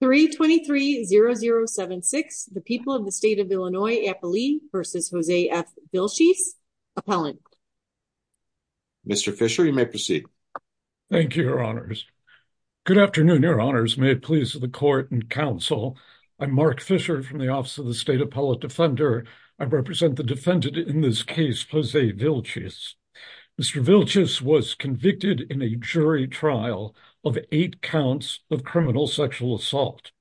323 0076 the people of the state of Illinois, Appalee versus Jose F. Vilchis, appellant. Mr. Fisher, you may proceed. Thank you, your honors. Good afternoon, your honors. May it please the court and counsel. I'm Mark Fisher from the office of the state appellate defender. I represent the defendant in this case, Jose Vilchis. Mr. Vilchis was convicted in a jury trial of eight counts of criminal sexual assault.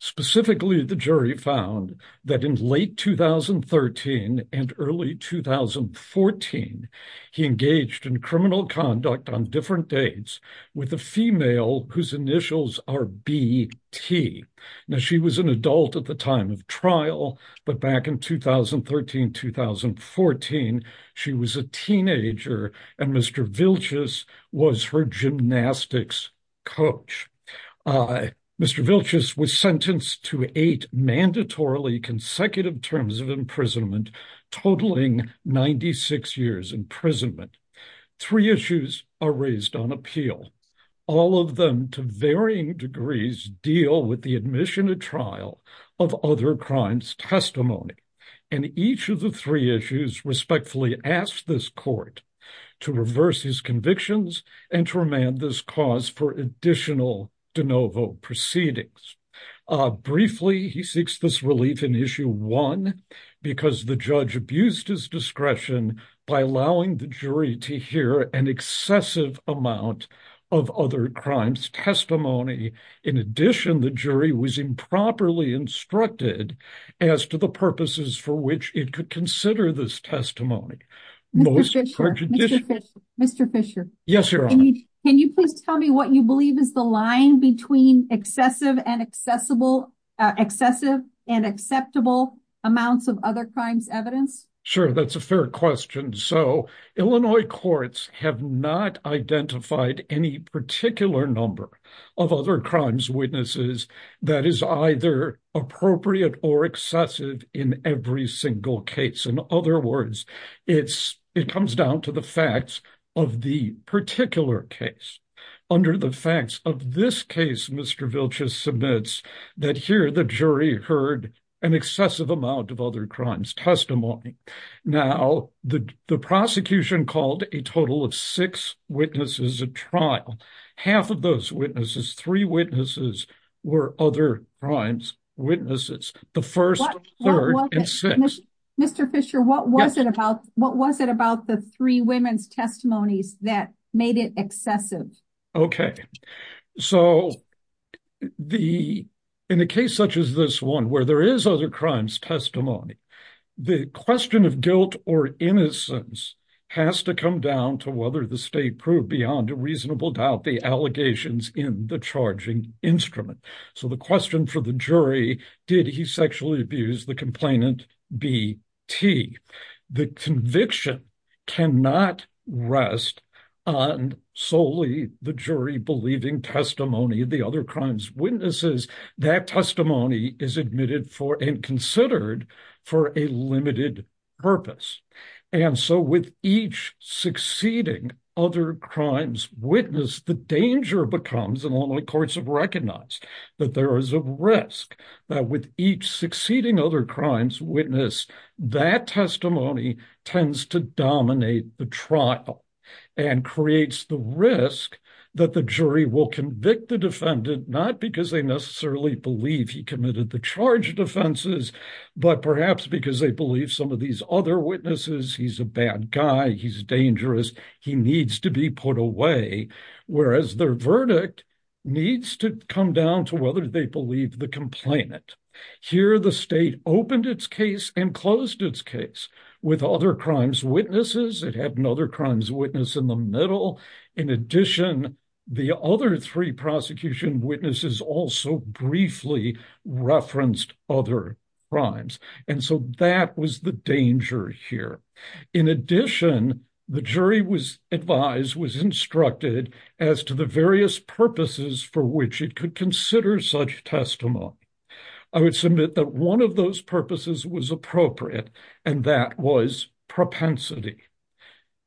Specifically, the jury found that in late 2013 and early 2014, he engaged in criminal conduct on different dates with a female whose initials are B.T. Now, she was an adult at the time of trial, but back in 2013-2014, she was a teenager, and Mr. Vilchis was her gymnastics coach. Mr. Vilchis was sentenced to eight mandatorily consecutive terms of imprisonment, totaling 96 years imprisonment. Three issues are raised on appeal. All of them, to varying degrees, deal with the admission at trial of other crimes testimony, and each of the three issues respectfully asks this court to reverse his convictions and to remand this cause for additional de novo proceedings. Briefly, he seeks this relief in issue one because the judge abused his discretion by allowing the jury to hear an excessive amount of other crimes testimony. In addition, the jury was improperly instructed as to the purposes for which it could consider this testimony. Mr. Fisher, can you please tell me what you believe is the line between excessive and accessible amounts of other crimes evidence? Sure, that's a fair question. So, Illinois courts have not identified any particular number of other crimes witnesses that is either appropriate or excessive in every single case. In other words, it comes down to the facts of the particular case. Under the facts of this case, Mr. Vilchis submits that here the jury heard an excessive amount of total of six witnesses at trial. Half of those witnesses, three witnesses, were other crimes witnesses. The first, third, and sixth. Mr. Fisher, what was it about the three women's testimonies that made it excessive? Okay. So, in a case such as this one where there is other to whether the state proved beyond a reasonable doubt the allegations in the charging instrument. So, the question for the jury, did he sexually abuse the complainant B.T.? The conviction cannot rest on solely the jury believing testimony of the other crimes witnesses. That testimony is admitted for and considered for a limited purpose. And so, with each succeeding other crimes witness, the danger becomes, and only courts have recognized, that there is a risk that with each succeeding other crimes witness, that testimony tends to dominate the trial and creates the risk that the jury will convict the defendant, not because they necessarily believe he committed the charge offenses, but perhaps because they believe some of these other witnesses, he's a bad guy, he's dangerous, he needs to be put away. Whereas their verdict needs to come down to whether they believe the complainant. Here the state opened its case and closed its case with other crimes witness in the middle. In addition, the other three prosecution witnesses also briefly referenced other crimes. And so, that was the danger here. In addition, the jury was advised, was instructed as to the various purposes for which it could consider such testimony. I would submit that one of those purposes was appropriate, and that was propensity.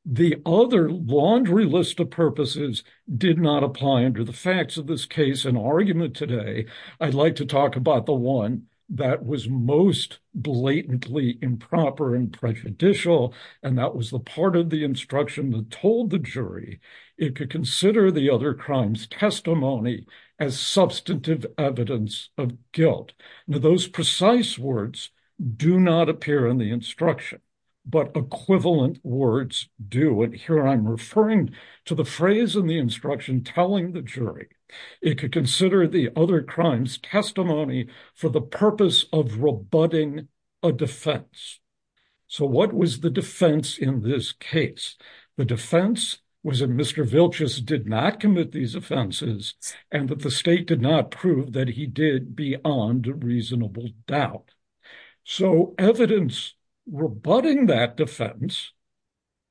The other laundry list of purposes did not apply under the facts of this case and argument today. I'd like to talk about the one that was most blatantly improper and prejudicial, and that was the part of the instruction that told the jury it could consider the other crimes testimony as substantive evidence of guilt. Now, those precise words do not appear in the instruction, but equivalent words do. And here I'm referring to the phrase in the instruction telling the jury it could consider the other crimes testimony for the purpose of rebutting a defense. So, what was the defense in this case? The defense was that Mr. Vilchus did not commit these offenses, and that the state did not prove that he did beyond a reasonable doubt. So, evidence rebutting that defense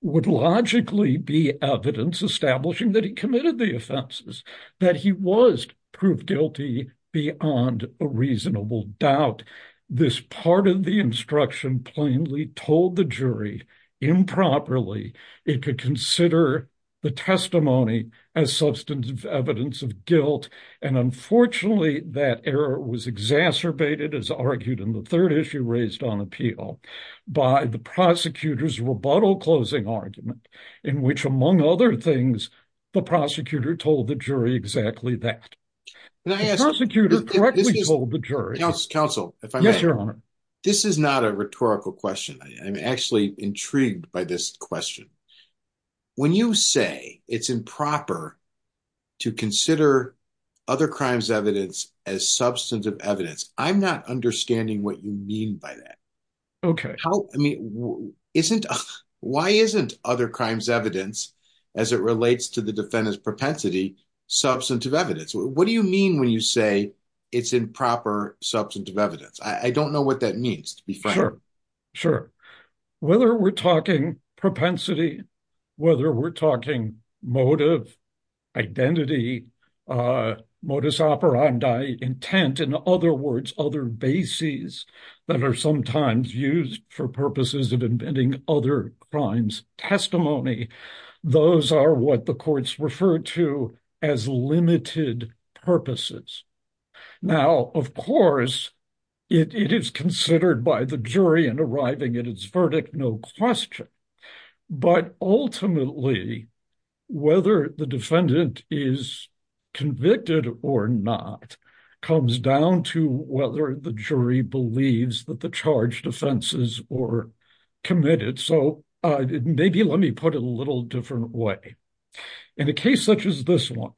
would logically be evidence establishing that he committed the offenses, that he was proved guilty beyond a reasonable doubt. This part of the instruction plainly told the jury improperly it could consider the testimony as substantive evidence of guilt. And unfortunately, that error was exacerbated, as argued in the third issue raised on appeal, by the prosecutor's rebuttal closing argument, in which, among other things, the prosecutor told the jury exactly that. The prosecutor correctly told the jury. Counsel, if I may. Yes, Your Honor. This is not a rhetorical question. I'm actually intrigued by this question. When you say it's improper to consider other crimes evidence as substantive evidence, I'm not understanding what you mean by that. Okay. Why isn't other crimes evidence, as it relates to the defendant's propensity, substantive evidence? What do you mean when you say it's improper substantive evidence? I don't propensity, whether we're talking motive, identity, modus operandi, intent, in other words, other bases that are sometimes used for purposes of inventing other crimes testimony. Those are what the courts refer to as limited purposes. Now, of course, it is considered by the jury and arriving at its verdict, no question. But ultimately, whether the defendant is convicted or not, comes down to whether the jury believes that the charged offenses were committed. Maybe let me put it a little different way. In a case such as this one,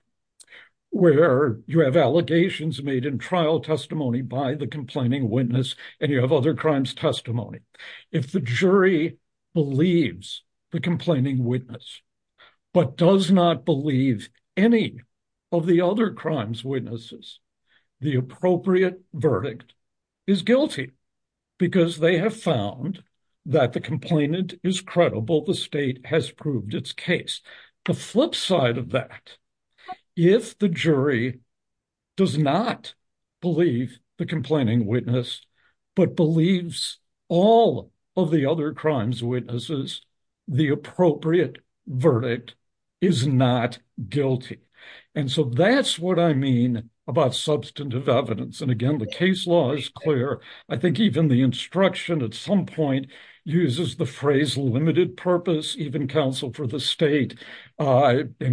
where you have allegations made in trial testimony by the complaining witness, and you have other crimes testimony, if the jury believes the complaining witness, but does not believe any of the other crimes witnesses, the appropriate verdict is guilty, because they have found that the complainant is credible, the state has proved its case. The flip side of that, if the jury does not believe the complaining witness, but believes all of the other crimes witnesses, the appropriate verdict is not guilty. And so that's what I mean about substantive evidence. And again, the case law is clear. I think even the instruction at some point, uses the phrase limited purpose, even counsel for the state. In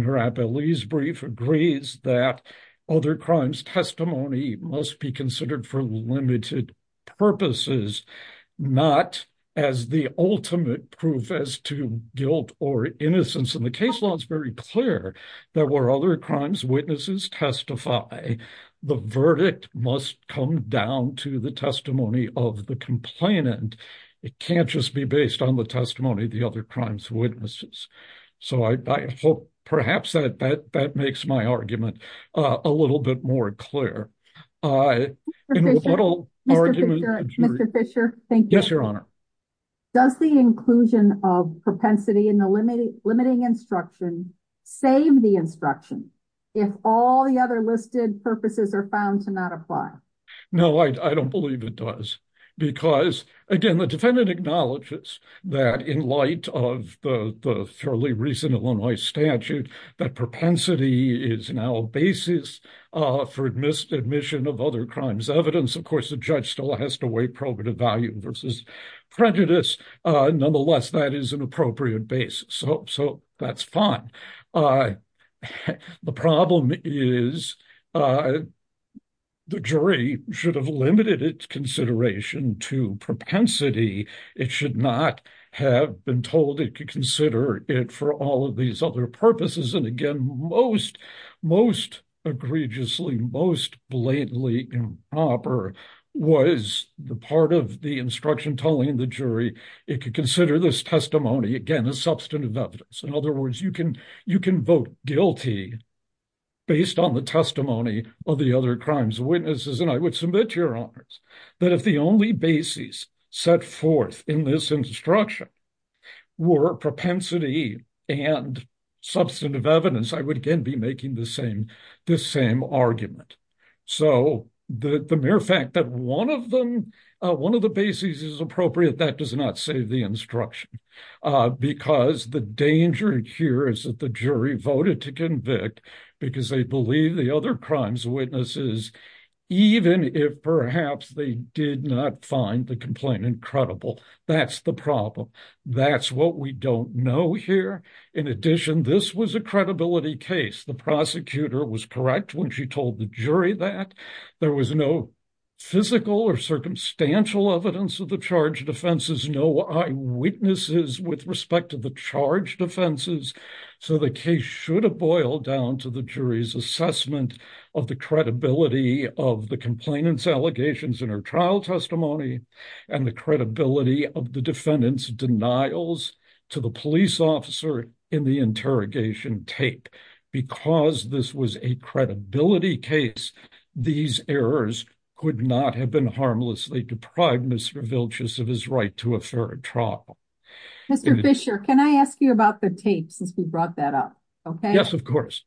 her appellees brief agrees that other crimes testimony must be considered for limited purposes, not as the ultimate proof as to guilt or innocence. And the case law is very clear. There were other crimes testify, the verdict must come down to the testimony of the complainant. It can't just be based on the testimony of the other crimes witnesses. So I hope perhaps that that makes my argument a little bit more clear. Mr. Fisher, thank you. Yes, Your Honor. Does the inclusion of propensity in the limiting instruction, save the instruction, if all the other listed purposes are found to not apply? No, I don't believe it does. Because again, the defendant acknowledges that in light of the fairly recent Illinois statute, that propensity is now a basis for admission of other crimes evidence. Of course, the judge still has to weigh probative value versus prejudice. Nonetheless, that is an appropriate basis. So that's fine. The problem is the jury should have limited its consideration to propensity. It should not have been told it could consider it for all of these other purposes. And again, most egregiously, most blatantly improper was the part of the instruction telling the jury, it could consider this testimony, again, a substantive evidence. In other words, you can vote guilty based on the testimony of the other crimes witnesses. And I would submit, Your Honors, that if the only basis set forth in this instruction were propensity and substantive evidence, I would again be making the same argument. So the mere fact that one of them, one of the bases is appropriate, that does not save the instruction. Because the danger here is that the jury voted to convict because they believe the other crimes witnesses, even if perhaps they did not find the complaint incredible. That's the problem. That's what we don't know here. In addition, this was a correct when she told the jury that there was no physical or circumstantial evidence of the charge defenses, no eyewitnesses with respect to the charge defenses. So the case should have boiled down to the jury's assessment of the credibility of the complainant's allegations in her trial testimony and the credibility of the defendant's denials to the police officer in the interrogation tape. Because this was a credibility case, these errors could not have been harmlessly deprived Mr. Vilchus of his right to a fair trial. Mr. Fisher, can I ask you about the tape since we brought that up? Okay. Yes, of course.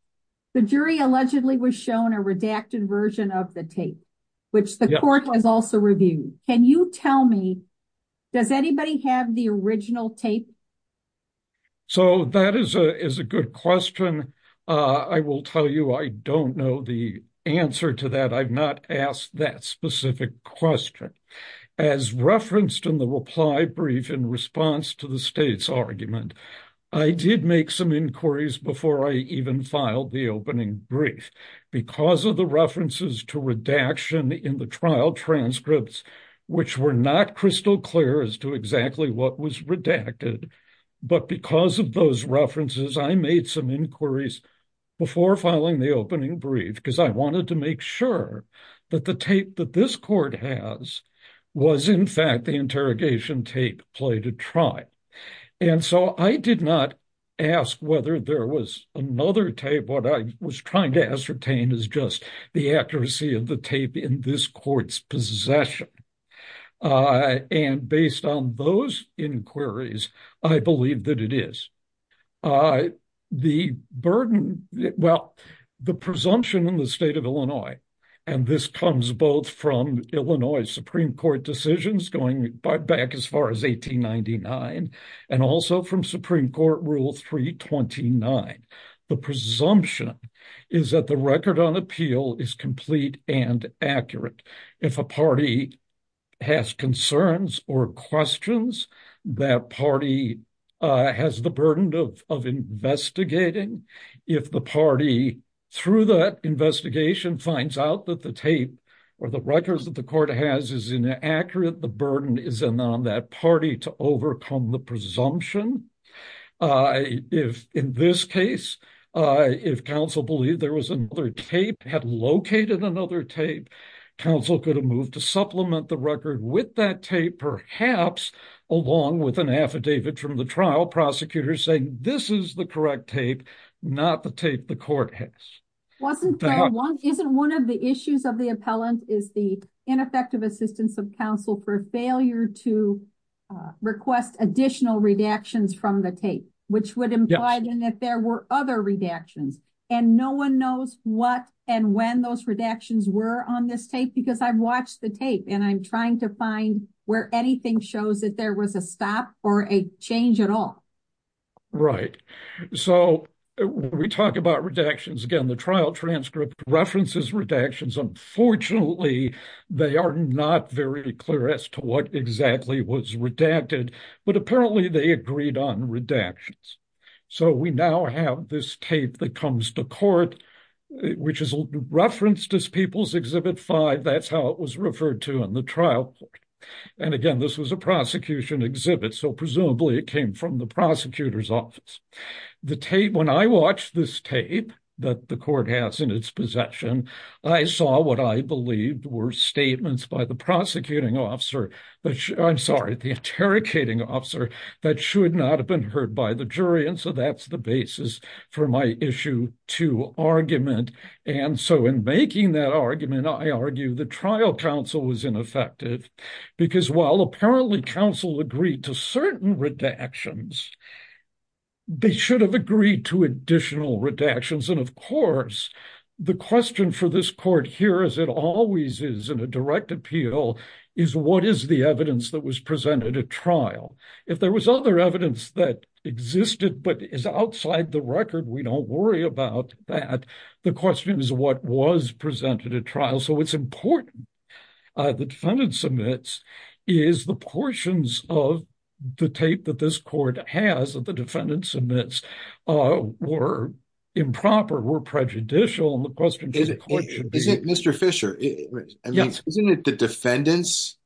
The jury allegedly was shown a redacted version of the tape, which the court has also reviewed. Can you tell me, does anybody have the original tape? So that is a good question. I will tell you, I don't know the answer to that. I've not asked that specific question. As referenced in the reply brief in response to the state's argument, I did make some inquiries before I even filed the opening brief because of the references to redaction in the trial transcripts, which were not crystal clear as to exactly what was redacted. But because of those references, I made some inquiries before filing the opening brief because I wanted to make sure that the tape that this court has was, in fact, the interrogation tape played a trial. And so I did not ask whether there was another tape. What I was trying to ascertain is just the accuracy of the tape in this court's possession. And based on those inquiries, I believe that it is. The burden, well, the presumption in the state of Illinois, and this comes both from Illinois Supreme Court decisions going back as far as 1899 and also from Supreme Court Rule 329, the presumption is that the record on appeal is complete and accurate. If a party has concerns or questions, that party has the burden of investigating. If the party, through that investigation, finds out that the tape or the records that the court has is inaccurate, the burden is on that party to overcome the tape. Counsel could have moved to supplement the record with that tape, perhaps, along with an affidavit from the trial prosecutor saying, this is the correct tape, not the tape the court has. Isn't one of the issues of the appellant is the ineffective assistance of counsel for failure to request additional redactions from the tape, which would imply then that there were other redactions and no one knows what and when those redactions were on this tape because I've watched the tape and I'm trying to find where anything shows that there was a stop or a change at all. Right. So, we talk about redactions. Again, the trial transcript references redactions. Unfortunately, they are not very clear as to what exactly was redacted, but apparently they agreed on redactions. So, we now have this tape that comes to court, which is referenced as People's Exhibit 5. That's how it was referred to in the trial court. And again, this was a prosecution exhibit, so presumably it came from the prosecutor's office. When I watched this tape that the court has in its possession, I saw what I believed were statements by the prosecuting officer, I'm sorry, the interrogating officer that should not have been heard by the jury, and so that's the basis for my issue two argument. And so, in making that argument, I argue the trial counsel was ineffective because while apparently counsel agreed to certain redactions, they should have agreed to additional redactions. And of course, the question for this court here, as it always is in a direct appeal, is what is the evidence that was presented at trial? If there was other evidence that existed but is outside the record, we don't worry about that. The question is what was presented at trial. So, it's important. The defendant submits is the portions of the tape that this court has that the defendant submits were improper, were prejudicial, and the question to the court should be... Isn't it, Mr. Fisher, isn't it the defendant's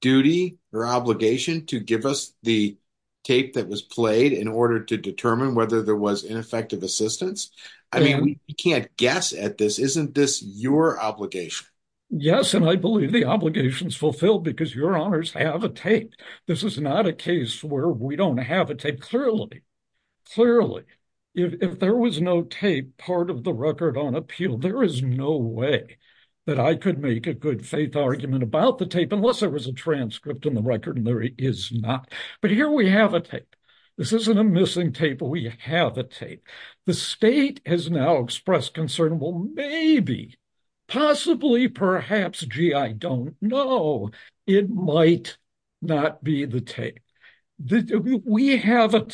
duty or obligation to give us the tape that was played in order to determine whether there was ineffective assistance? I mean, we can't guess at this. Isn't this your obligation? Yes, and I believe the obligation is fulfilled because your honors have a tape. This is not a case where we don't have a tape clearly. Clearly, if there was no tape part of the record on appeal, there is no way that I could make a good faith argument about the tape unless there was a transcript in the record, and there is not. But here we have a tape. This isn't a missing tape. We have a tape. The state has now expressed concern, well, maybe, possibly, perhaps, gee, I don't know, it might not be the tape. We have a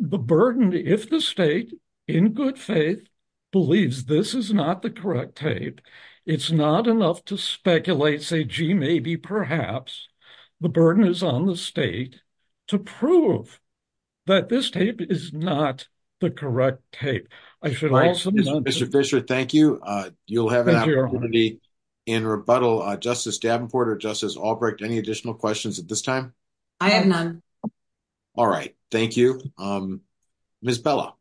the burden if the state, in good faith, believes this is not the correct tape, it's not enough to speculate, say, gee, maybe, perhaps, the burden is on the state to prove that this tape is not the correct tape. I should also... Mr. Fisher, thank you. You'll have an opportunity in rebuttal. Justice Davenport or Justice Albrecht, any additional questions at this time? I have none. All right. Thank you. Ms. Bella.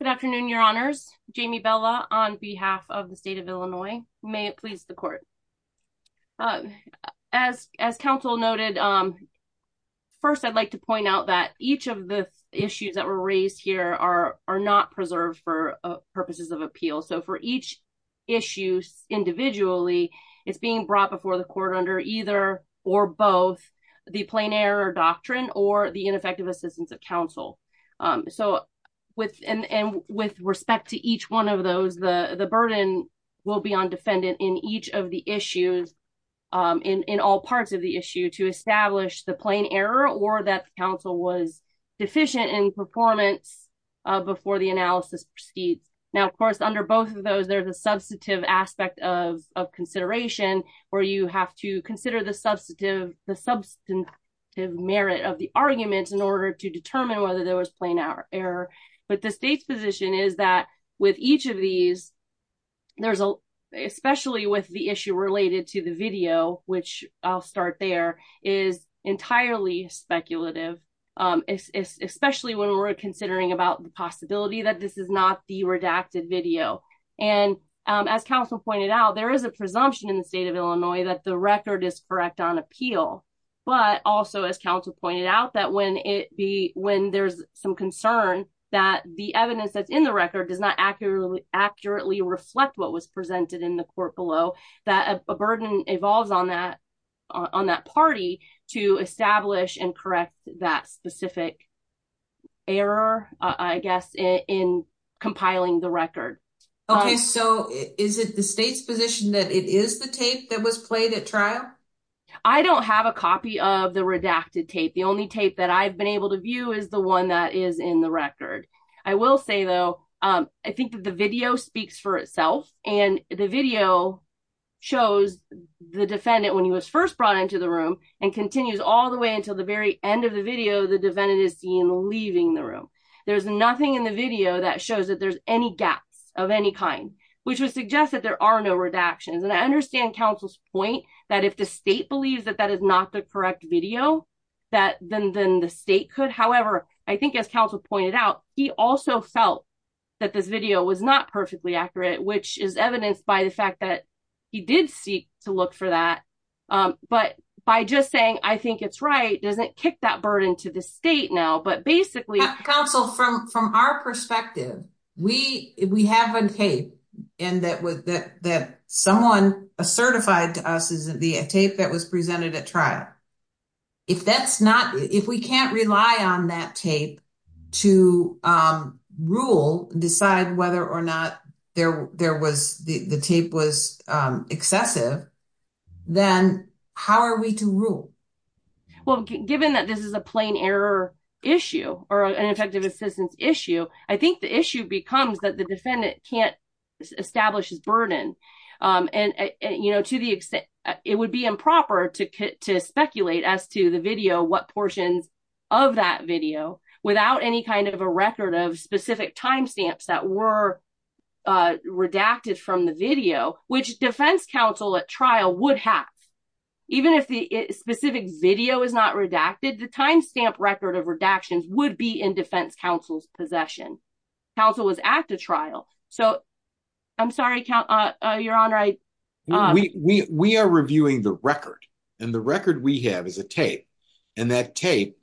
Good afternoon, your honors. Jamie Bella on behalf of the state of Illinois. May it please the court. As counsel noted, first, I'd like to point out that each of the issues that were raised here are not preserved for purposes of appeal. So for each issue individually, it's being brought before the court under either or both the plain error doctrine or the ineffective assistance of counsel. And with respect to each one of those, the burden will be on defendant in each of the issues, in all parts of the issue, to establish the plain error or that the counsel was deficient in performance before the analysis proceeds. Now, of course, under both of those, there's a have to consider the substantive merit of the argument in order to determine whether there was plain error. But the state's position is that with each of these, especially with the issue related to the video, which I'll start there, is entirely speculative, especially when we're considering about the possibility that this is not the redacted video. And as counsel pointed out, there is a presumption in the state of Illinois that the record is correct on appeal. But also, as counsel pointed out, that when it be when there's some concern that the evidence that's in the record does not accurately accurately reflect what was presented in the court below, that a burden evolves on that on that party to establish and correct that specific error, I guess, in compiling the record. Okay, so is it the state's position that it is the tape that was played at trial? I don't have a copy of the redacted tape. The only tape that I've been able to view is the one that is in the record. I will say, though, I think that the video speaks for itself. And the video shows the defendant when he was first brought into the room and continues all the way until the very end of the video, the defendant is seen leaving the room. There's nothing in the video that shows that there's any gaps of any kind, which would suggest that there are no redactions. And I understand counsel's point that if the state believes that that is not the correct video, that then the state could. However, I think as counsel pointed out, he also felt that this video was not perfectly accurate, which is evidenced by the fact that he did seek to look for that. But by just saying, I think it's right doesn't kick that burden to the state now. But basically, counsel from from our perspective, we we have a tape and that was that that someone a certified to us isn't the tape that was presented at trial. If that's not if we can't then how are we to rule? Well, given that this is a plain error issue or an effective assistance issue, I think the issue becomes that the defendant can't establish his burden. And, you know, to the extent it would be improper to to speculate as to the video, what portions of that video without any kind of a record of specific timestamps that were redacted from the video, which defense counsel at trial would have, even if the specific video is not redacted, the timestamp record of redactions would be in defense counsel's possession. Counsel was at the trial. So I'm sorry, your honor, I, we, we, we are reviewing the record. And the record we have is a tape. And that tape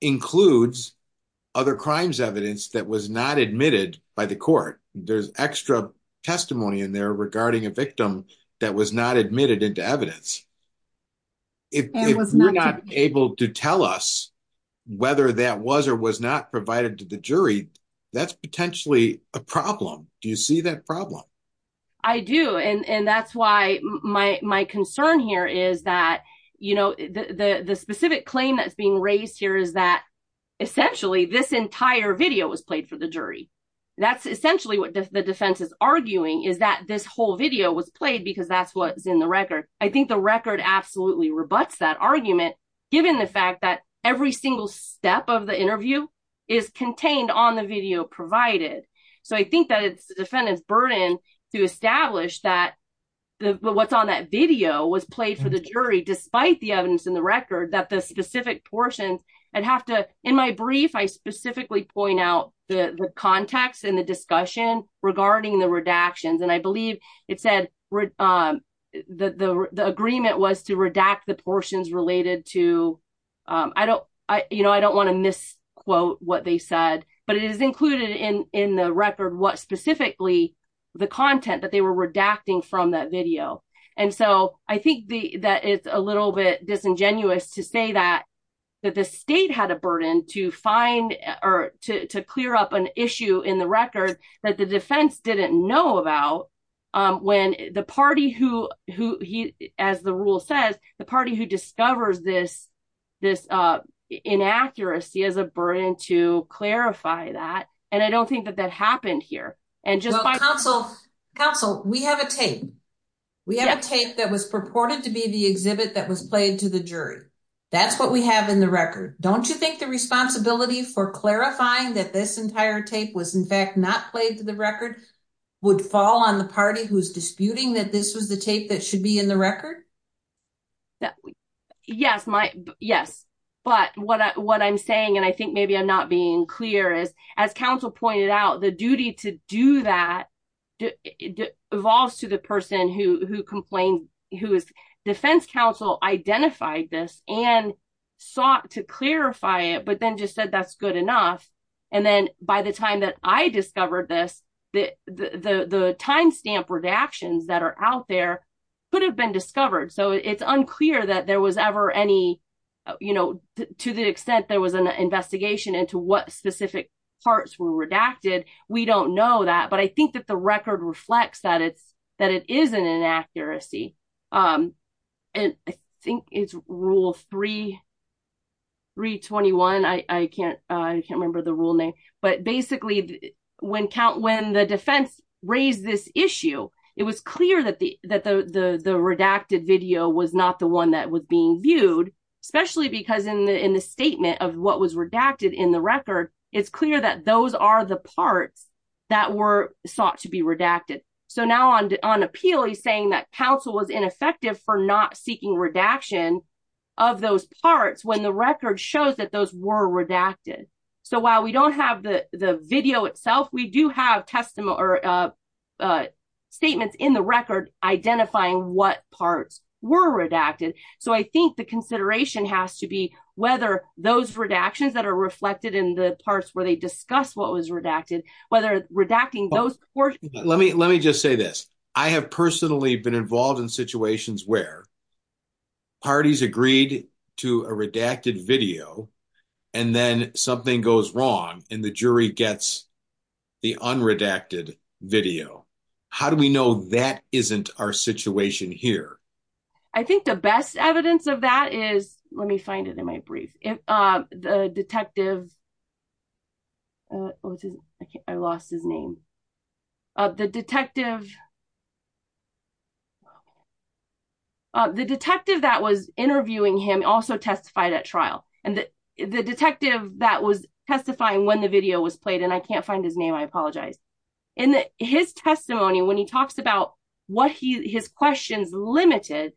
includes other crimes evidence that was not admitted by the court. There's extra testimony in there regarding a victim that was not admitted into evidence. It was not able to tell us whether that was or was not provided to the jury. That's potentially a problem. Do you see that problem? I do. And that's why my concern here is that, you know, the specific claim that's being raised here is that essentially this entire video was played for the jury. That's essentially what the defense is arguing is that this whole video was played because that's what's in the record. I think the record absolutely rebuts that argument, given the fact that every single step of the interview is contained on the video provided. So I think that it's the defendant's burden to establish that what's on that video was played for the jury, despite the evidence in the record that the specific portions and have to, in my context in the discussion regarding the redactions. And I believe it said the agreement was to redact the portions related to, you know, I don't want to misquote what they said, but it is included in the record what specifically the content that they were redacting from that video. And so I think that it's a little bit disingenuous to say that the state had a burden to find or to clear up an issue in the record that the defense didn't know about when the party who he, as the rule says, the party who discovers this, this inaccuracy as a burden to clarify that. And I don't think that that happened here. And just counsel, counsel, we have a tape. We have a tape that was purported to be the exhibit that was played to the jury. That's what we have in the record. Don't you think the responsibility for clarifying that this entire tape was in fact not played to the record would fall on the party who's disputing that this was the tape that should be in the record? Yes, my yes. But what I'm saying, and I think maybe I'm not being clear is, as counsel pointed out, the duty to do that evolves to the person who complained, who is defense counsel, identified this and sought to clarify it, but then just said that's good enough. And then by the time that I discovered this, the timestamp redactions that are out there could have been discovered. So it's unclear that there was ever any, you know, to the extent there was an investigation into what specific parts were redacted. We don't know that, but I think that the record reflects that it's, that it is an inaccuracy. And I think it's rule 321. I can't, I can't remember the rule name, but basically when count, when the defense raised this issue, it was clear that the, that the, the, the redacted video was not the one that was being viewed, especially because in the, in the statement of what was redacted in the record, it's clear that those are the parts that were sought to be redacted. So now on, on appeal, he's saying that counsel was ineffective for not seeking redaction of those parts when the record shows that those were redacted. So while we don't have the video itself, we do have testimony or statements in the record identifying what parts were redacted. So I think the consideration has to be whether those redactions that are reflected in the parts where they discuss what was redacted, whether redacting those. Let me, let me just say this. I have personally been involved in situations where parties agreed to a redacted video and then something goes wrong and the jury gets the unredacted video. How do we know that isn't our situation here? I think the best evidence of that is, let me find it in my brief. If the detective, I lost his name, the detective, the detective that was interviewing him also testified at trial. And the detective that was testifying when the video was played, and I can't find his what he, his questions limited.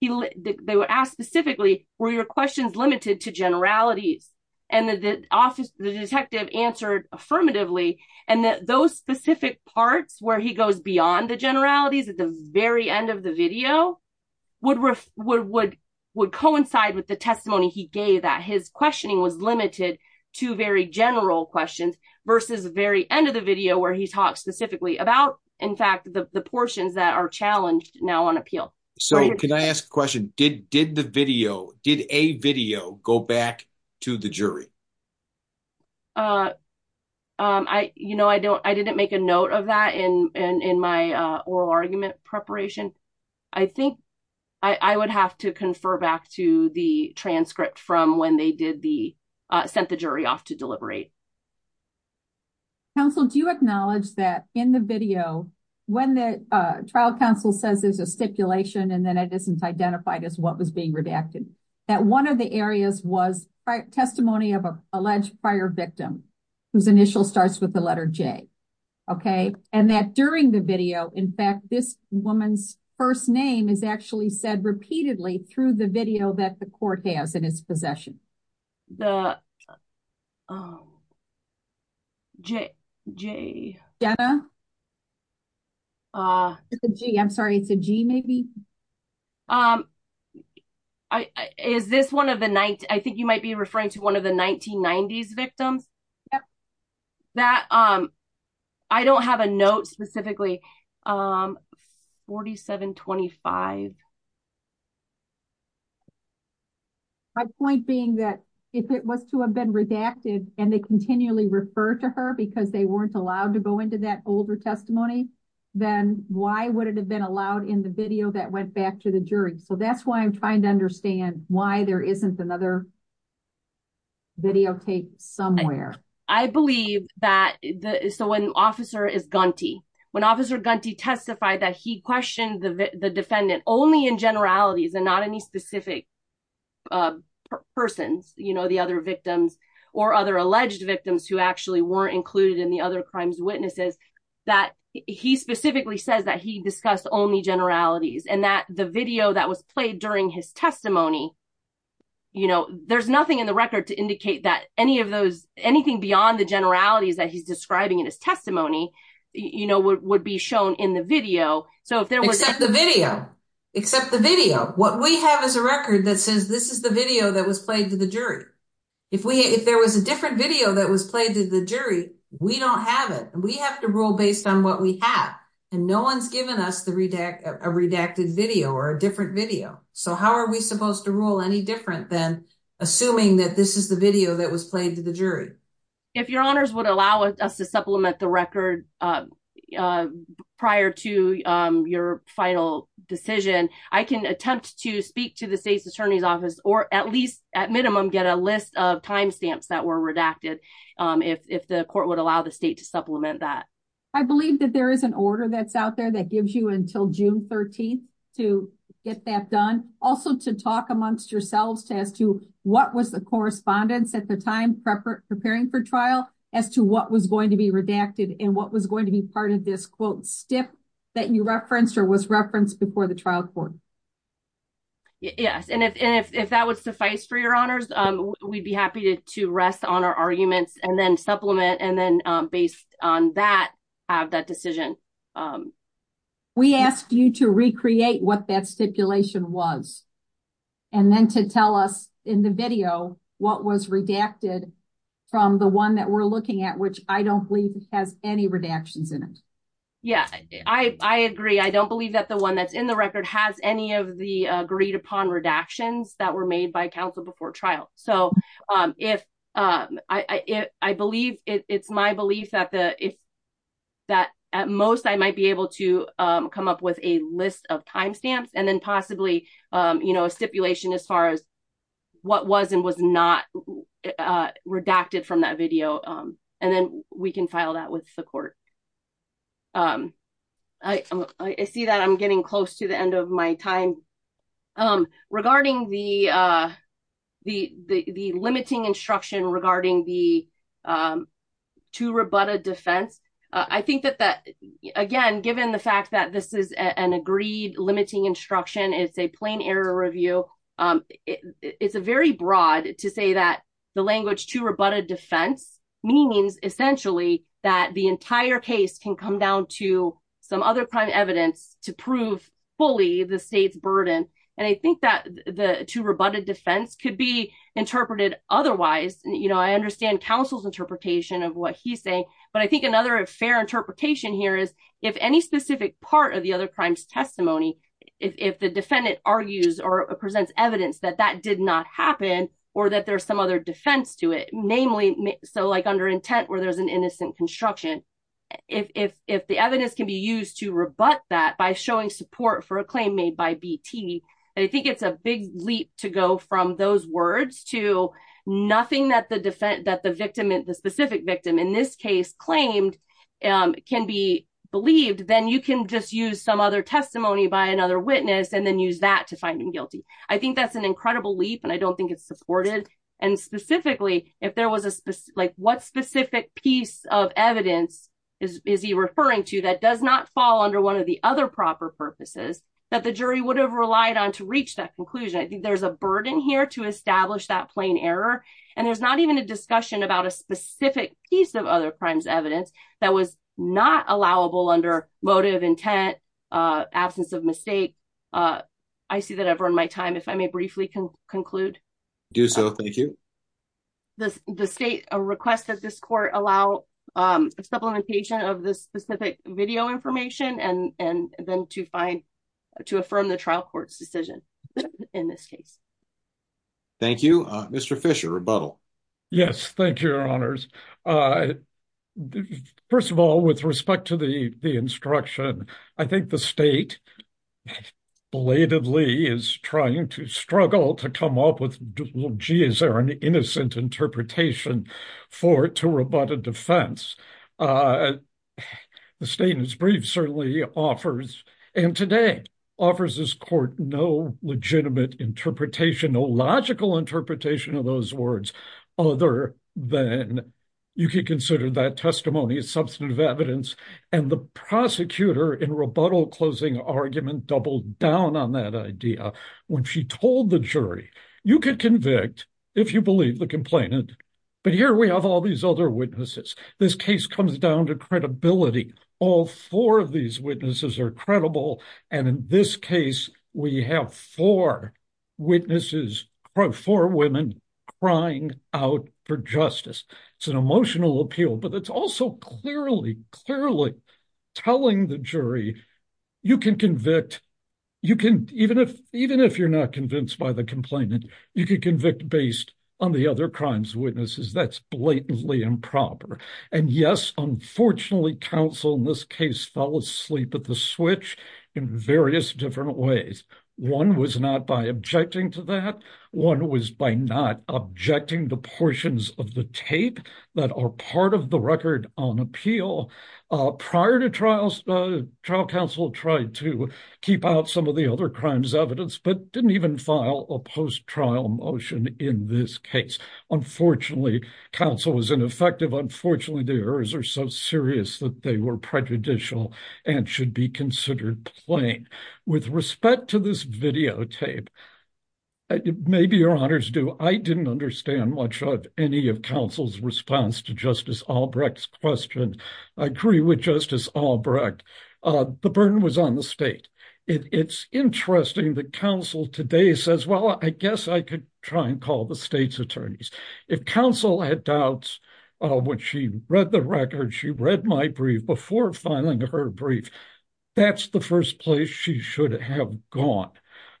They were asked specifically, were your questions limited to generalities? And the office, the detective answered affirmatively. And that those specific parts where he goes beyond the generalities at the very end of the video would, would, would, would coincide with the testimony he gave that his questioning was limited to very general questions versus the very end of the video where he talks specifically about, in fact, the portions that are challenged now on appeal. So can I ask a question? Did, did the video, did a video go back to the jury? I, you know, I don't, I didn't make a note of that in, in, in my oral argument preparation. I think I would have to confer back to the transcript from when they did the, sent the jury off to deliberate. Counsel, do you acknowledge that in the video, when the trial counsel says there's a stipulation and then it isn't identified as what was being redacted, that one of the areas was testimony of a alleged prior victim whose initial starts with the letter J. Okay. And that during the video, in fact, this woman's first name is actually said repeatedly through the video that the court has in its possession, the J J Jenna. Ah, gee, I'm sorry. It's a G maybe. Um, I, is this one of the night, I think you might be referring to one of the 1990s victims that, um, I don't have a note specifically, um, 47, 25. My point being that if it was to have been redacted and they continually refer to her because they weren't allowed to go into that older testimony, then why would it have been allowed in the video that went back to the jury? So that's why I'm trying to understand why there isn't another video tape somewhere. I believe that the, so when officer is Gunty, when officer Gunty testified that he questioned the defendant only in generalities and not any specific, uh, persons, you know, the other victims or other alleged victims who actually weren't included in the other crimes witnesses that he specifically says that he discussed only generalities and that the video that was played during his testimony, you know, there's nothing in the record to indicate that any of those, anything beyond the generalities that he's describing in his testimony, you know, would be shown in the video. So if there was the video, except the video, what we have is a record that says, this is the video that was played to the jury. If we, if there was a different video that was played to the jury, we don't have it. And we have to rule based on what we have and no one's given us the redact, a redacted video or a different video. So how are we supposed to rule any different than assuming that this is the video that was played to the jury? If your honors would allow us to supplement the record, uh, uh, prior to, um, your final decision, I can attempt to speak to the state's attorney's office, or at least at minimum, get a list of timestamps that were redacted. Um, if, if the court would allow the state to supplement that. I believe that there is an order that's out there that gives you until June 13th to get that done. Also to talk amongst yourselves to, as to what was the correspondence at the time, prepping, preparing for trial as to what was going to be redacted and what was going to be part of this quote, stiff that you referenced or was referenced before the trial court. Yes. And if, and if, if that was suffice for your honors, um, we'd be happy to, to rest on our arguments and then supplement. And then, um, based on that, have that decision. Um, we asked you to recreate what that stipulation was, and then to tell us in the video, what was redacted from the one that we're looking at, which I don't believe has any redactions in it. Yeah, I, I agree. I don't believe that the one that's in the record has any of the agreed upon redactions that were made by counsel before trial. So, um, if, um, I, I, I believe it's my belief that the, if that at most I might be able to, um, come up with a list of timestamps and then possibly, um, you know, a stipulation as far as what was and was not, uh, redacted from that video. Um, and then we can file that with the court. Um, I, I see that I'm getting close to my time, um, regarding the, uh, the, the, the limiting instruction regarding the, um, two rebutted defense. Uh, I think that that, again, given the fact that this is an agreed limiting instruction, it's a plain error review. Um, it, it's a very broad to say that the language two rebutted defense means essentially that the entire case can come down to some other evidence to prove fully the state's burden. And I think that the two rebutted defense could be interpreted otherwise, you know, I understand counsel's interpretation of what he's saying, but I think another fair interpretation here is if any specific part of the other crimes testimony, if, if the defendant argues or presents evidence that that did not happen or that there's some other defense to it, namely. So like under intent where there's an innocent construction, if, if, if the evidence can be used to rebut that by showing support for a claim made by BT, and I think it's a big leap to go from those words to nothing that the defense, that the victim, the specific victim in this case claimed, um, can be believed, then you can just use some other testimony by another witness and then use that to find him guilty. I think that's an incredible leap and I don't think it's supported. And specifically, if there was a specific, like what specific piece of evidence is, is he referring to that does not fall under one of the other proper purposes that the jury would have relied on to reach that conclusion. I think there's a burden here to establish that plain error. And there's not even a discussion about a specific piece of other crimes evidence that was not allowable under motive intent, uh, absence of mistake. Uh, I see that I've run my time. If I may briefly conclude. Do so. Thank you. This, the state, a request that this court allow, um, supplementation of this specific video information and, and then to find, to affirm the trial court's decision in this case. Thank you, Mr. Fisher rebuttal. Yes. Thank you. Your honors. Uh, first of all, with respect to the, the instruction, I think the state belatedly is trying to struggle to come up with, well, gee, is there an innocent interpretation for, to rebut a defense? Uh, the state is brief. Certainly offers. And today offers this court, no legitimate interpretation, no logical interpretation of those words, other than you could consider that testimony as substantive evidence and the prosecutor in rebuttal closing argument doubled down on that when she told the jury, you could convict if you believe the complainant, but here we have all these other witnesses. This case comes down to credibility. All four of these witnesses are credible. And in this case, we have four witnesses, four women crying out for justice. It's an emotional appeal, but it's also clearly, clearly telling the jury you can convict. You can, even if, even if you're not convinced by the complainant, you could convict based on the other crimes witnesses that's blatantly improper. And yes, unfortunately, counsel in this case, fell asleep at the switch in various different ways. One was not by objecting to that one was by not objecting to portions of the tape that are part of the record on appeal. Prior to trials, trial counsel tried to keep out some of the other crimes evidence, but didn't even file a post trial motion in this case. Unfortunately, counsel was ineffective. Unfortunately, the errors are so serious that they were prejudicial and should be considered plain. With respect to this videotape, it may be your honors do, I didn't understand much of any of counsel's response to Justice Albrecht's question. I agree with Justice Albrecht. The burden was on the state. It's interesting that counsel today says, well, I guess I could try and call the state's attorneys. If counsel had doubts, when she read the record, she read my brief before filing her brief. That's the first place she should have gone.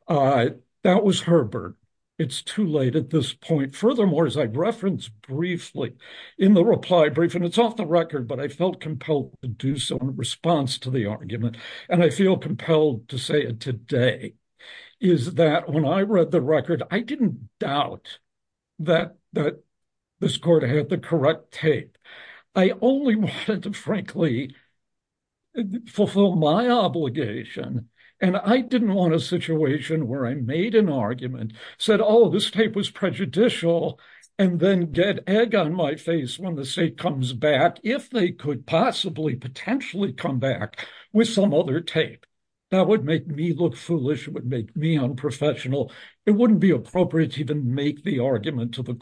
That was Herbert. It's too late at this point. Furthermore, as I referenced briefly in the reply brief, and it's off the record, but I felt compelled to do so in response to the argument. And I feel compelled to say it today, is that when I read the record, I didn't doubt that this court had the correct tape. I only wanted to, frankly, fulfill my obligation. And I didn't want a situation where I made an argument, said, oh, this tape was prejudicial, and then get egg on my face when the state comes back, if they could possibly potentially come back with some other tape. That would make me look foolish. It would make me unprofessional. It wouldn't be appropriate to even make the argument to the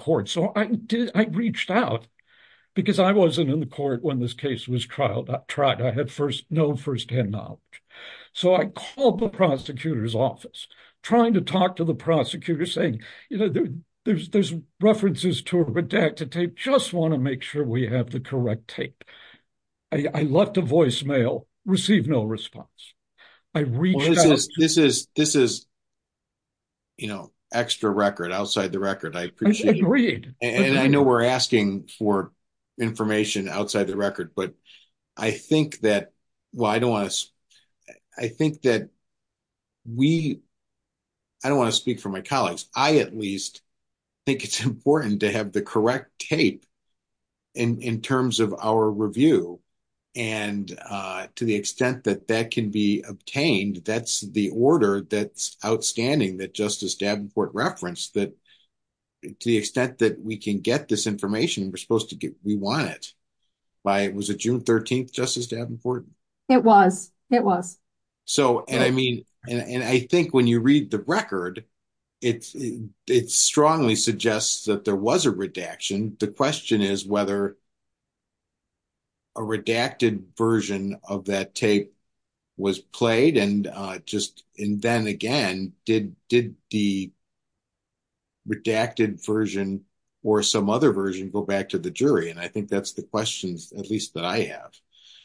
I wasn't in the court when this case was tried. I had no first-hand knowledge. So I called the prosecutor's office, trying to talk to the prosecutor, saying, you know, there's references to a redacted tape. Just want to make sure we have the correct tape. I left a voicemail, received no response. I reached out. Well, this is, you know, extra record, I appreciate it. And I know we're asking for information outside the record. But I think that, well, I don't want to, I think that we, I don't want to speak for my colleagues. I at least think it's important to have the correct tape in terms of our review. And to the extent that that can be obtained, that's the order that's outstanding that Justice Davenport referenced, that to the extent that we can get this information, we're supposed to get, we want it by, was it June 13th, Justice Davenport? It was, it was. So, and I mean, and I think when you read the record, it strongly suggests that there was a redaction. The question is whether a redacted version of that tape was played and just, and then again, did the redacted version or some other version go back to the jury? And I think that's the questions, at least that I have.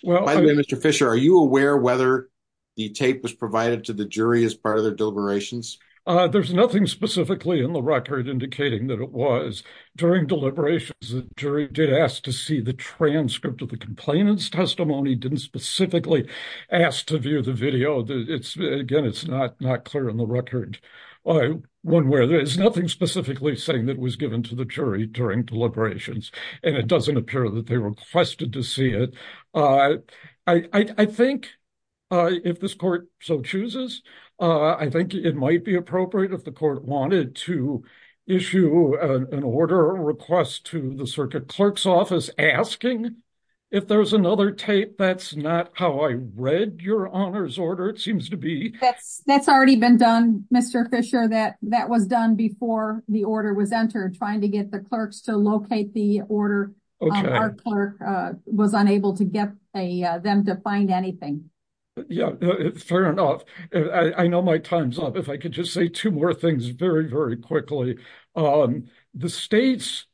By the way, Mr. Fisher, are you aware whether the tape was provided to the jury as part of their deliberations? There's nothing specifically in the record indicating that it was. During deliberations, the jury did ask to see the transcript of the complainant's testimony, didn't specifically ask to view the video. It's, again, it's not, not clear on the specifically saying that it was given to the jury during deliberations, and it doesn't appear that they requested to see it. I think if this court so chooses, I think it might be appropriate if the court wanted to issue an order or request to the circuit clerk's office asking if there's another tape. That's not how I read your honor's order, it seems to be. That's already been done, Mr. Fisher, that that was done before the order was entered, trying to get the clerks to locate the order. Our clerk was unable to get them to find anything. Yeah, fair enough. I know my time's up. If I could just say two more things very, very quickly. The state's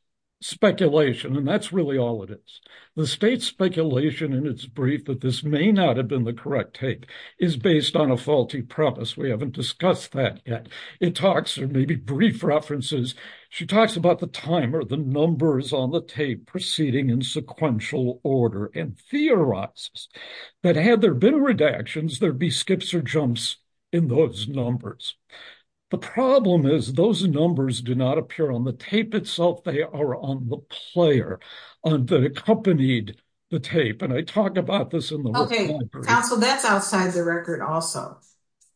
speculation, and that's really all it is, the state's speculation in its brief that this may not have been the correct tape is based on a faulty premise. We haven't discussed that yet. It talks, or maybe brief references, she talks about the time or the numbers on the tape proceeding in sequential order and theorizes that had there been redactions, there'd be skips or jumps in those numbers. The problem is those numbers do not appear on the tape itself, they are on the player that accompanied the tape, and I talk about this in the report. Okay, counsel, that's outside the record also.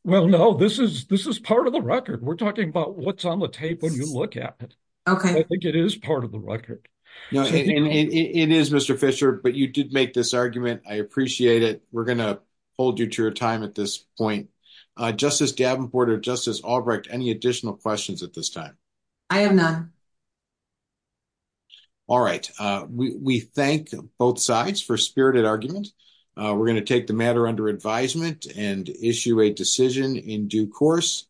Well, no, this is part of the record. We're talking about what's on the tape when you look at it. Okay. I think it is part of the record. It is, Mr. Fisher, but you did make this argument. I appreciate it. We're going to hold you to your time at this point. Justice Davenport or Justice Albrecht, any additional questions at this time? I have none. All right. We thank both sides for spirited argument. We're going to take the matter under advisement and issue a decision in due course.